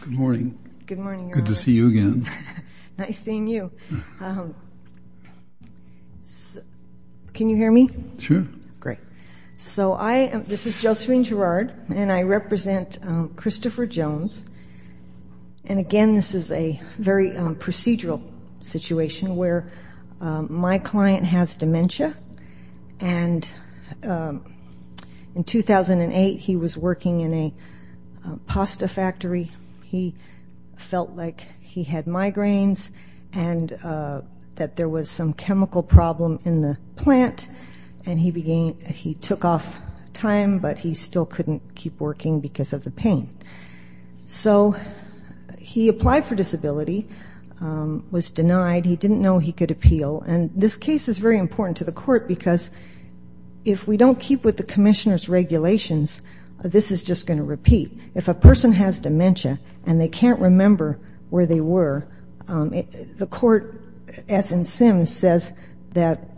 Good morning. Good morning. Good to see you again. Nice seeing you. Can you hear me? Sure. Great. So I am, this is Josephine Gerard and I represent Christopher Jones and again this is a very procedural situation where my client has dementia and in 2008 he was working in a he felt like he had migraines and that there was some chemical problem in the plant and he began, he took off time but he still couldn't keep working because of the pain. So he applied for disability, was denied, he didn't know he could appeal and this case is very important to the court because if we don't keep with the commissioner's regulations this is just going to repeat. If a person has dementia and they can't remember where they were the court, as in Sims, says that,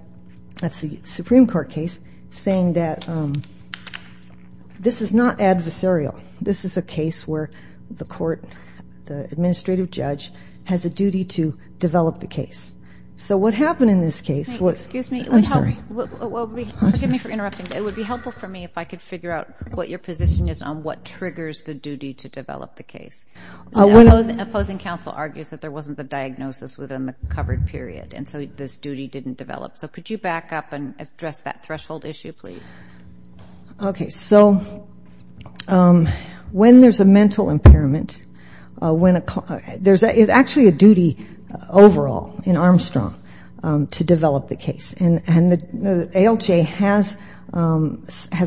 that's the Supreme Court case saying that this is not adversarial, this is a case where the court, the administrative judge has a duty to develop the case. So what happened in this case was, I'm sorry. Well, forgive me for interrupting, but it would be helpful for me if I could figure out what your position is on what triggers the duty to develop the case. The opposing counsel argues that there wasn't the diagnosis within the covered period and so this duty didn't develop. So could you back up and address that threshold issue, please? Okay. So when there's a mental impairment, when a, there's actually a duty overall in Armstrong to develop the case. And the ALJ has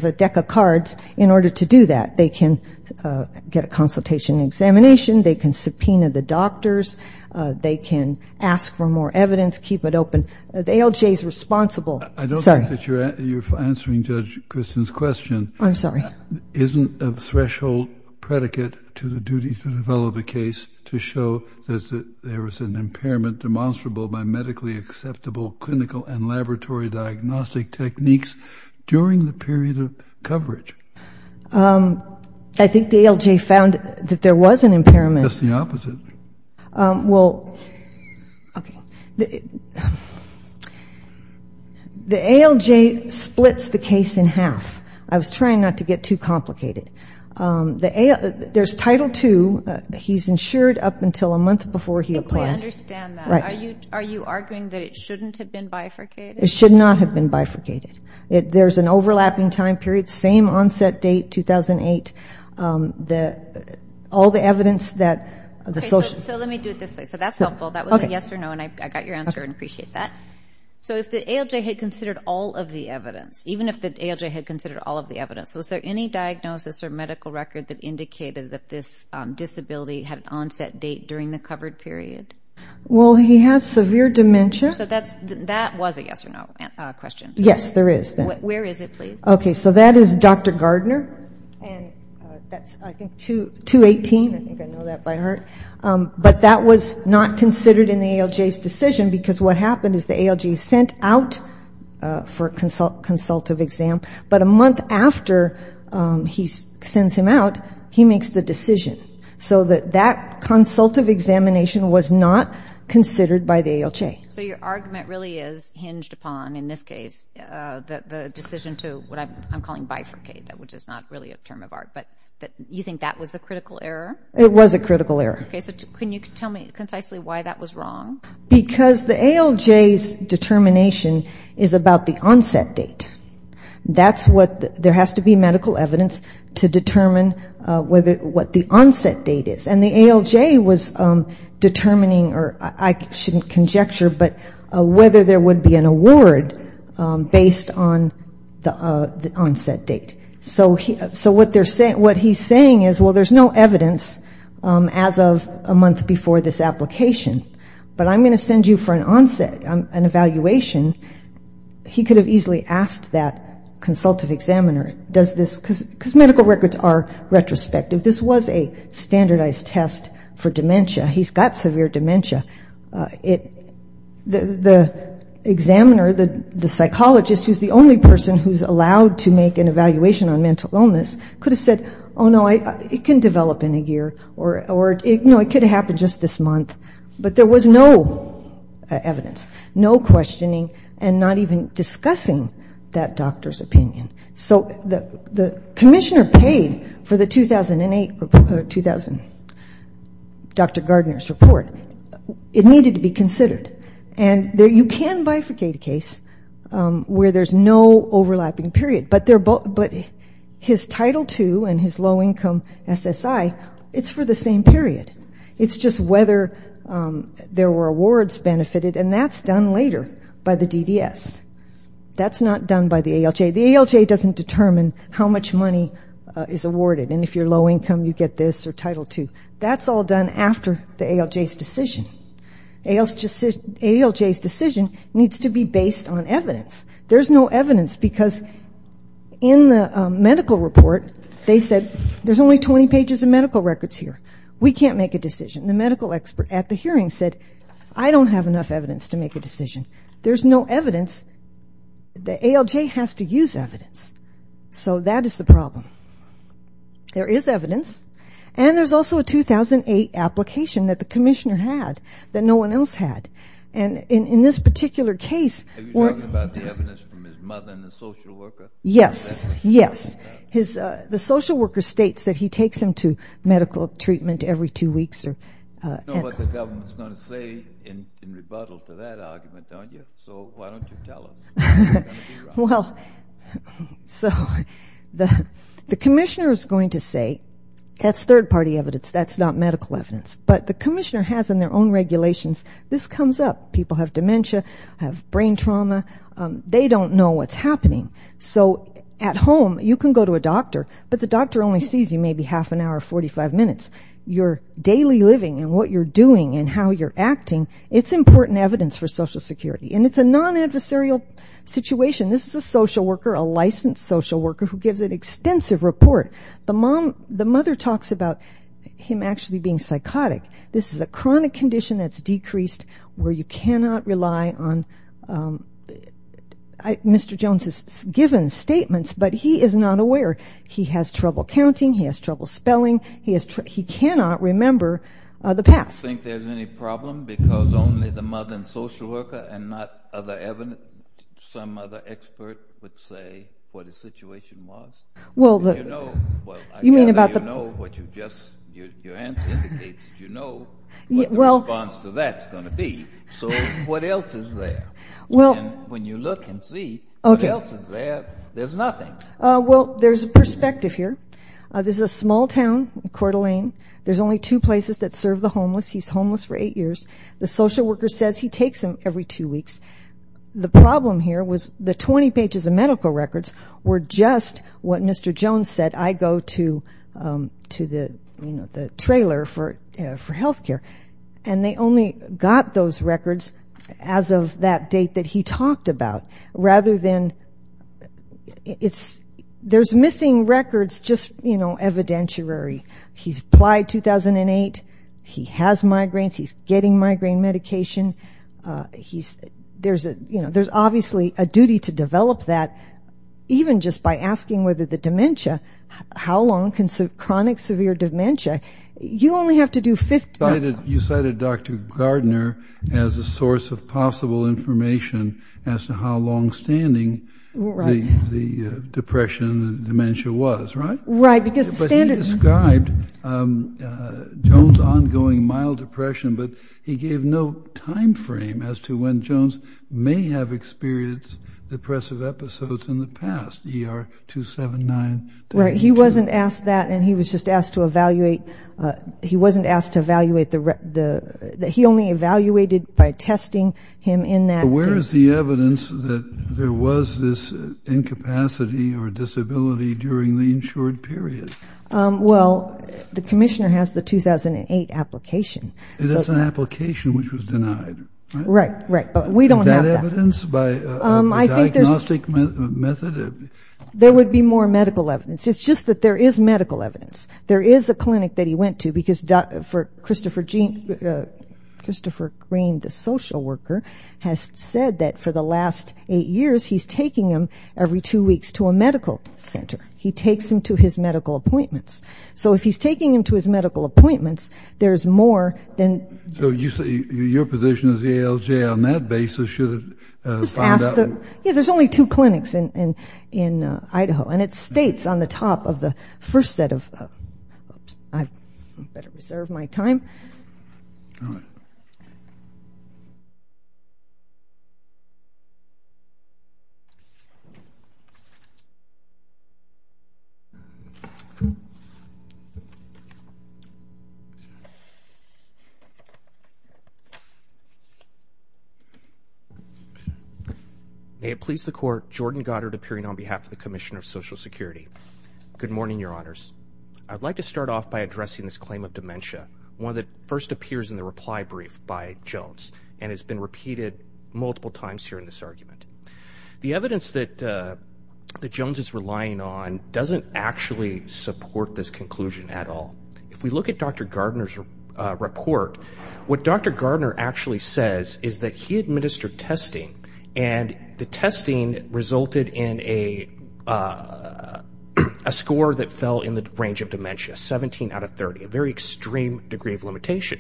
a deck of cards in order to do that. They can get a consultation examination, they can subpoena the doctors, they can ask for more evidence, keep it open. The ALJ is responsible. I don't think that you're answering Judge Christian's question. I'm sorry. Isn't a threshold predicate to the duty to develop a case to show that there was an impairment demonstrable by medically acceptable clinical and laboratory diagnostic techniques during the period of coverage? I think the ALJ found that there was an impairment. That's the opposite. Well, okay. The ALJ splits the case in half. I was trying not to get too complicated. There's Title II. He's insured up until a month before he applies. Are you arguing that it shouldn't have been bifurcated? It should not have been bifurcated. There's an overlapping time period, same onset date, 2008. All the evidence that the social... Let me do it this way. That's helpful. That was a yes or no. I got your answer and appreciate that. If the ALJ had considered all of the evidence, was there any diagnosis or medical record that indicated that this disability had an onset date during the covered period? Well, he has severe dementia. That was a yes or no question. That is Dr. Gardner. That's, I think, 218. But that was not considered in the ALJ's decision because what happened is the ALJ sent out for a consultative exam, but a month after he sends him out, he makes the decision. So that consultative examination was not considered by the ALJ. So your argument really is hinged upon, in this case, the decision to what I'm calling bifurcate, which is not really a term of art, but you think that was the critical error? It was a critical error. Because the ALJ's determination is about the onset date. That's what, there has to be medical evidence to determine what the onset date is. And the ALJ was determining, or I shouldn't conjecture, but whether there would be an award based on the onset date. So what he's saying is, well, there's no evidence as of a month before this application, but I'm going to send you for an onset, an evaluation. What does that consultative examiner, does this, because medical records are retrospective. This was a standardized test for dementia. He's got severe dementia. The examiner, the psychologist, who's the only person who's allowed to make an evaluation on mental illness, could have said, oh, no, it can develop in a year, or it could have happened just this month. But there was no evidence, no questioning, and not even discussing that doctor's opinion. So the commissioner paid for the 2008, 2000 Dr. Gardner's report. It needed to be considered, and you can bifurcate a case where there's no overlapping period, but his Title II and his low income SSI, it's for the same period. It's just whether there were awards benefited, and that's done later by the DDS. That's not done by the ALJ. That's all done after the ALJ's decision. ALJ's decision needs to be based on evidence. There's no evidence, because in the medical report, they said, I don't have enough evidence to make a decision. The ALJ has to use evidence, so that is the problem. There is evidence, and there's also a 2008 application that the commissioner had that no one else had. And in this particular case... Yes, yes. The social worker states that he takes him to medical treatment every two weeks. You know what the government is going to say in rebuttal to that argument, don't you? So why don't you tell us? The commissioner is going to say, that's third party evidence, that's not medical evidence. But the commissioner has in their own regulations, this comes up. People have dementia, have brain trauma, they don't know what's happening. So at home, you can go to a doctor, but the doctor only sees you maybe half an hour, 45 minutes. Your daily living and what you're doing and how you're acting, it's important evidence for Social Security. And it's a non-adversarial situation. The mother talks about him actually being psychotic. He cannot rely on Mr. Jones' given statements, but he is not aware. He has trouble counting, he has trouble spelling, he cannot remember the past. Do you think there's any problem because only the mother and social worker and not other evidence, some other expert would say what the situation was? I gather you know what you just... So what else is there? When you look and see, what else is there? There's nothing. Well, there's a perspective here. This is a small town, Coeur d'Alene, there's only two places that serve the homeless. He's homeless for eight years. The social worker says he takes him every two weeks. The problem here was the 20 pages of medical records were just what Mr. Jones said, I go to the trailer for health care, and they only got those records as of that date that he talked about. Rather than, there's missing records, just evidentiary. He's applied 2008, he has migraines, he's getting migraine medication. There's obviously a duty to develop that, even just by asking whether the dementia, how long can chronic severe dementia, you only have to do 50... You cited Dr. Gardner as a source of possible information as to how long-standing the depression and dementia was, right? Right, because the standard... But he described Jones' ongoing mild depression, but he gave no time frame as to when Jones may have experienced depressive episodes in the past. He wasn't asked that, and he was just asked to evaluate... He wasn't asked to evaluate the... He only evaluated by testing him in that... Where is the evidence that there was this incapacity or disability during the insured period? Well, the commissioner has the 2008 application. It is an application which was denied. Right, right, but we don't have that. There would be more medical evidence. It's just that there is medical evidence. There is a clinic that he went to, because Christopher Green, the social worker, has said that for the last eight years, he's taking him every two weeks to a medical center. He takes him to his medical appointments. So if he's taking him to his medical appointments, there's more than... So your position as the ALJ on that basis should find out... Yeah, there's only two clinics in Idaho, and it states on the top of the first set of... I better reserve my time. May it please the Court, Jordan Goddard appearing on behalf of the Commissioner of Social Security. Good morning, Your Honors. I'd like to start off by addressing this claim of dementia, one that first appears in the reply brief by Jones, and has been repeated multiple times here in this argument. The evidence that Jones is relying on doesn't actually support this conclusion at all. If we look at Dr. Gardner's report, what Dr. Gardner actually says is that he administered testing, and the testing resulted in a score that fell in the range of dementia, 17 out of 30, a very extreme degree of limitation.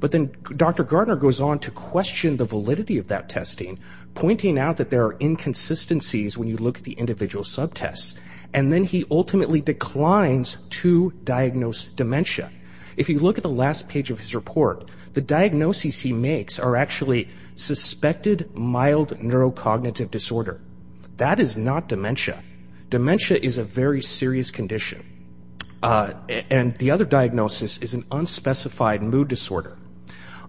But then Dr. Gardner goes on to question the validity of that testing, pointing out that there are inconsistencies when you look at the individual subtests, and then he ultimately declines to diagnose dementia. If you look at the last page of his report, the diagnoses he makes are actually suspected mild neurocognitive disorder. That is not dementia. Dementia is a very serious condition, and the other diagnosis is an unspecified mood disorder.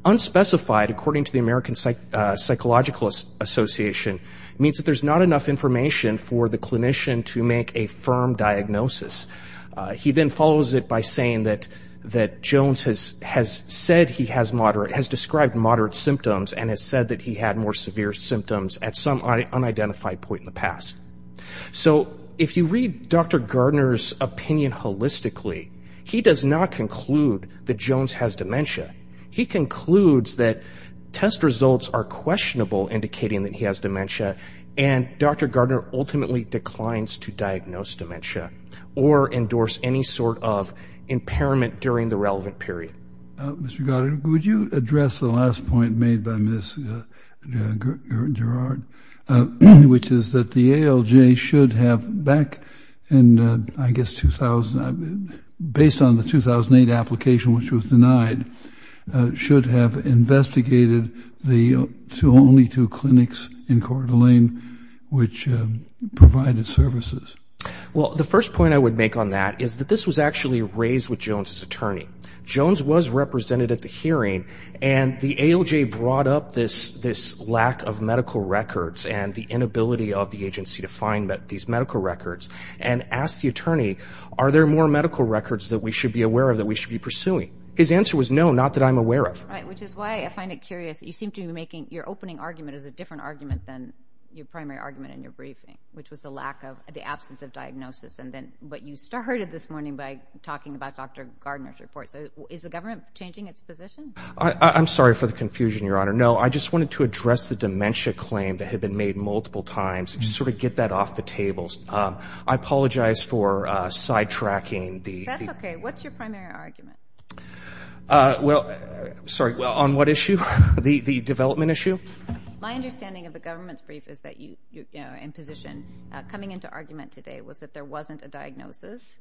Unspecified, according to the American Psychological Association, means that there's not enough information for the clinician to make a firm diagnosis. He then follows it by saying that Jones has said he has moderate, has described moderate symptoms, and has said that he had more severe symptoms at some unidentified point in the past. So if you read Dr. Gardner's opinion holistically, he does not conclude that Jones has dementia. He concludes that test results are questionable, indicating that he has dementia, and Dr. Gardner ultimately declines to diagnose dementia, or endorse any sort of impairment during the relevant period. Mr. Gardner, would you address the last point made by Ms. Gerard, which is that the ALJ should have back in, I guess, based on the 2008 application which was denied, should have investigated the only two clinics in Coeur d'Alene which provided services? Well, the first point I would make on that is that this was actually raised with Jones's attorney. Jones was represented at the hearing, and the ALJ brought up this lack of medical records, and the inability of the agency to find these medical records, and asked the attorney, are there more medical records that we should be aware of, that we should be pursuing? His answer was, no, not that I'm aware of. Right, which is why I find it curious that you seem to be making, your opening argument is a different argument than your primary argument in your briefing, which was the absence of diagnosis. But you started this morning by talking about Dr. Gardner's report. So is the government changing its position? I'm sorry for the confusion, Your Honor. No, I just wanted to address the dementia claim that had been made multiple times, to sort of get that off the table. I apologize for sidetracking. That's okay. What's your primary argument? Sorry, on what issue? The development issue? My understanding of the government's brief is that you're in position. Coming into argument today was that there wasn't a diagnosis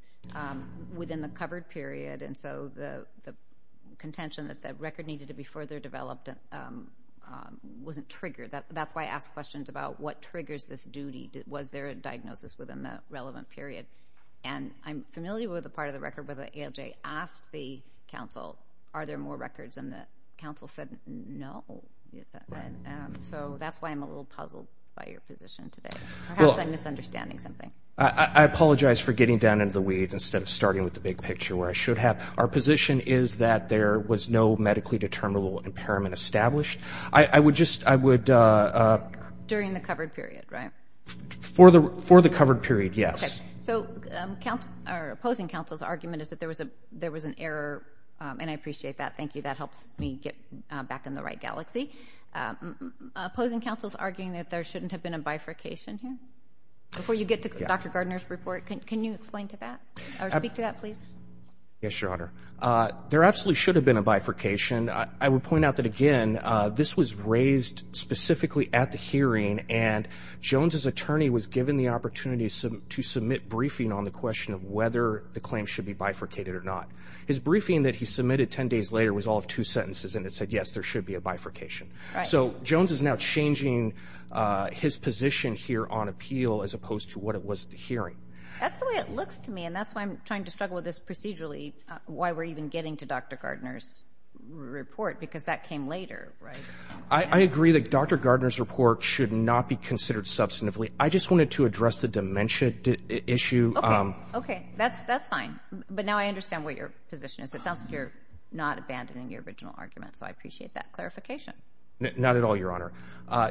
within the covered period, and so the contention that the record needed to be further developed wasn't triggered. That's why I ask questions about what triggers this duty. Was there a diagnosis within the relevant period? And I'm familiar with the part of the record where the ALJ asked the counsel, are there more records? And the counsel said no. So that's why I'm a little puzzled by your position today. Perhaps I'm misunderstanding something. I apologize for getting down into the weeds instead of starting with the big picture where I should have. Our position is that there was no medically determinable impairment established. I would just, I would. During the covered period, right? For the covered period, yes. So opposing counsel's argument is that there was an error, and I appreciate that. Thank you. That helps me get back in the right galaxy. Opposing counsel's arguing that there shouldn't have been a bifurcation here. Before you get to Dr. Gardner's report, can you explain to that or speak to that, please? Yes, Your Honor. There absolutely should have been a bifurcation. I would point out that, again, this was raised specifically at the hearing, and Jones's attorney was given the opportunity to submit briefing on the question of whether the claim should be bifurcated or not. His briefing that he submitted 10 days later was all of two sentences, and it said, yes, there should be a bifurcation. Right. So Jones is now changing his position here on appeal as opposed to what it was at the hearing. That's the way it looks to me, and that's why I'm trying to struggle with this procedurally, why we're even getting to Dr. Gardner's report, because that came later, right? I agree that Dr. Gardner's report should not be considered substantively. I just wanted to address the dementia issue. Okay. That's fine. But now I understand what your position is. It sounds like you're not abandoning your original argument, so I appreciate that clarification. Not at all, Your Honor.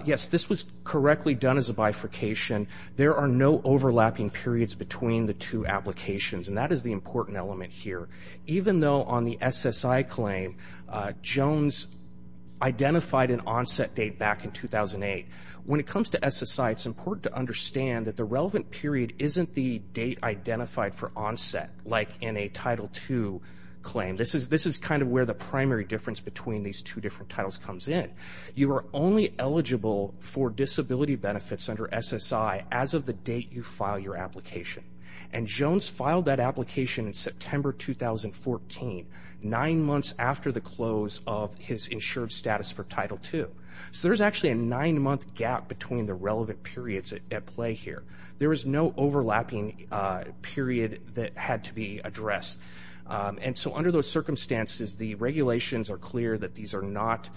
Yes, this was correctly done as a bifurcation. There are no overlapping periods between the two applications, and that is the important element here. Even though on the SSI claim Jones identified an onset date back in 2008, when it comes to SSI, it's important to understand that the relevant period isn't the date identified for onset, like in a Title II claim. This is kind of where the primary difference between these two different titles comes in. You are only eligible for disability benefits under SSI as of the date you file your application. And Jones filed that application in September 2014, nine months after the close of his insured status for Title II. So there's actually a nine-month gap between the relevant periods at play here. There is no overlapping period that had to be addressed. And so under those circumstances, the regulations are clear that these are not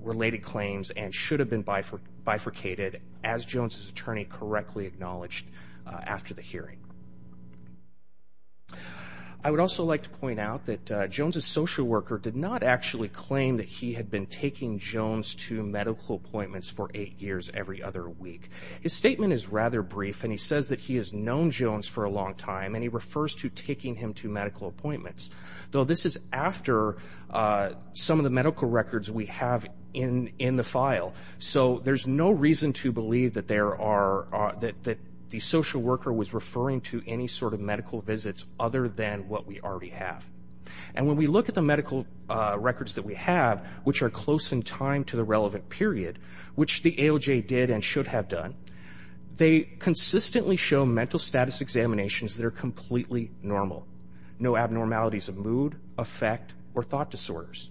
related claims and should have been bifurcated, as Jones' attorney correctly acknowledged after the hearing. I would also like to point out that Jones' social worker did not actually claim that he had been taking Jones to medical appointments for eight years every other week. His statement is rather brief, and he says that he has known Jones for a long time, and he refers to taking him to medical appointments, though this is after some of the medical records we have in the file. So there's no reason to believe that the social worker was referring to any sort of medical visits other than what we already have. And when we look at the medical records that we have, which are close in time to the relevant period, which the AOJ did and should have done, they consistently show mental status examinations that are completely normal. No abnormalities of mood, affect, or thought disorders.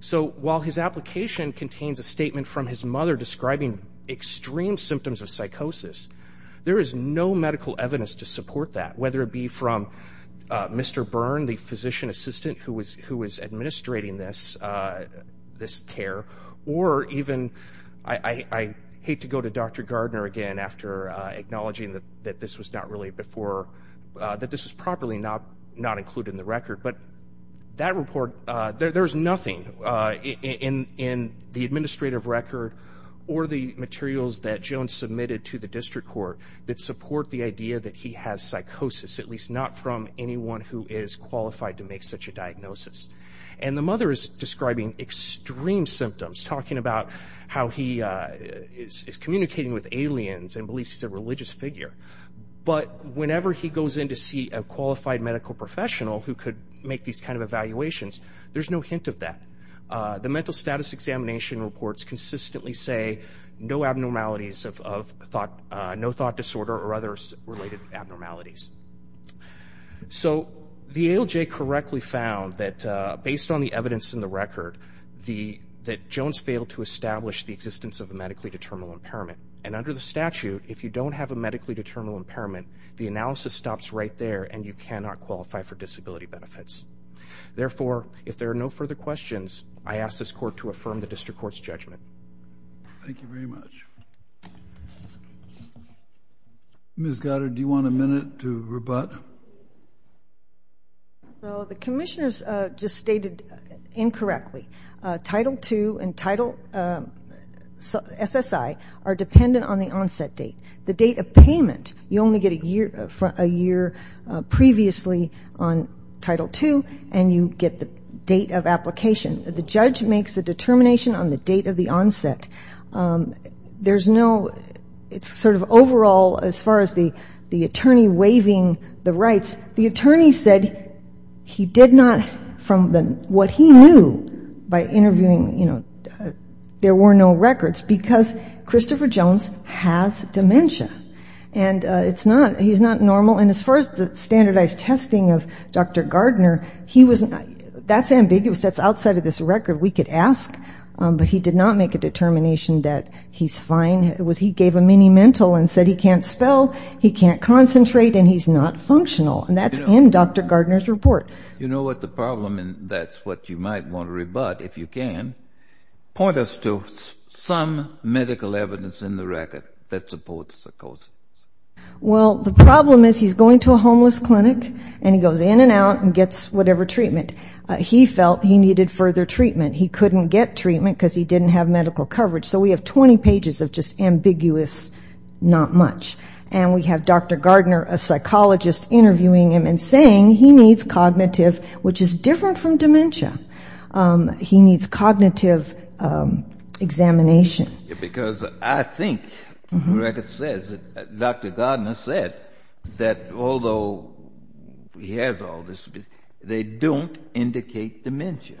So while his application contains a statement from his mother describing extreme symptoms of psychosis, there is no medical evidence to support that, whether it be from Mr. Byrne, the physician assistant who was administrating this care, or even, I hate to go to Dr. Gardner again after acknowledging that this was not really before, that this was properly not included in the record, but that report, there's nothing in the administrative record or the materials that Jones submitted to the district court that support the idea that he has psychosis, at least not from anyone who is qualified to make such a diagnosis. And the mother is describing extreme symptoms, talking about how he is communicating with aliens and believes he's a religious figure. But whenever he goes in to see a qualified medical professional who could make these kind of evaluations, there's no hint of that. The mental status examination reports consistently say no abnormalities of thought, thought disorder, or other related abnormalities. So the ALJ correctly found that based on the evidence in the record, that Jones failed to establish the existence of a medically determinable impairment. And under the statute, if you don't have a medically determinable impairment, the analysis stops right there and you cannot qualify for disability benefits. Therefore, if there are no further questions, I ask this court to affirm the district court's judgment. Thank you very much. Ms. Goddard, do you want a minute to rebut? So the commissioners just stated incorrectly Title II and Title SSI are dependent on the onset date. The date of payment, you only get a year previously on Title II, and you get the date of application. The judge makes a determination on the date of the onset. It's sort of overall, as far as the attorney waiving the rights, the attorney said he did not, from what he knew by interviewing, there were no records, because Christopher Jones has dementia. And he's not normal. And as far as the standardized testing of Dr. Gardner, that's ambiguous. That's outside of this record. We could ask, but he did not make a determination that he's fine. He gave a mini-mental and said he can't spell, he can't concentrate, and he's not functional. And that's in Dr. Gardner's report. Point us to some medical evidence in the record that supports the causes. Well, the problem is he's going to a homeless clinic and he goes in and out and gets whatever treatment. He felt he needed further treatment. He couldn't get treatment because he didn't have medical coverage. So we have 20 pages of just ambiguous not much. And we have Dr. Gardner, a psychologist, interviewing him and saying he needs cognitive, which is different from dementia. He needs cognitive examination. Because I think the record says that Dr. Gardner said that although he has all this, they don't indicate dementia.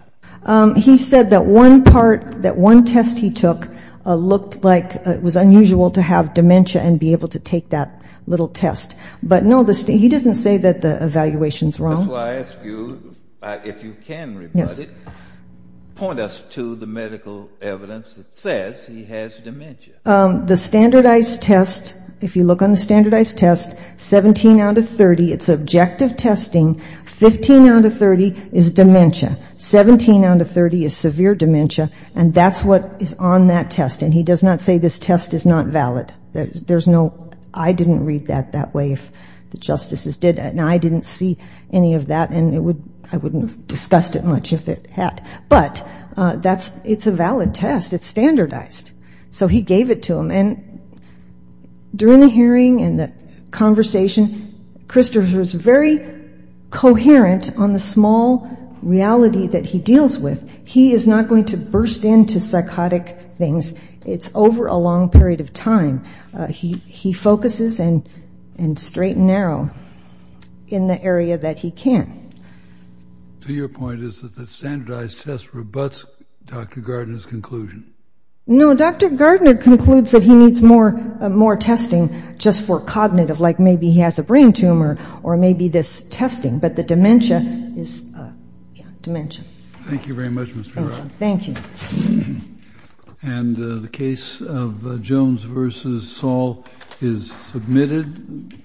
He said that one part, that one test he took looked like it was unusual to have dementia and be able to take that little test. But no, he doesn't say that the evaluation is wrong. That's why I ask you, if you can, report it, point us to the medical evidence that says he has dementia. The standardized test, if you look on the standardized test, 17 out of 30, it's objective testing. 15 out of 30 is dementia. 17 out of 30 is severe dementia. And that's what is on that test. And he does not say this test is not valid. There's no, I didn't read that that way, if the justices did. And I didn't see any of that, and I wouldn't have discussed it much if it had. But it's a valid test. It's standardized. So he gave it to him. And during the hearing and the conversation, Christopher's very coherent on the small reality that he deals with. He is not going to burst into psychotic things. Because it's over a long period of time. He focuses and straight and narrow in the area that he can. So your point is that the standardized test rebuts Dr. Gardner's conclusion? No, Dr. Gardner concludes that he needs more testing just for cognitive, like maybe he has a brain tumor or maybe this testing. But the dementia is, yeah, dementia.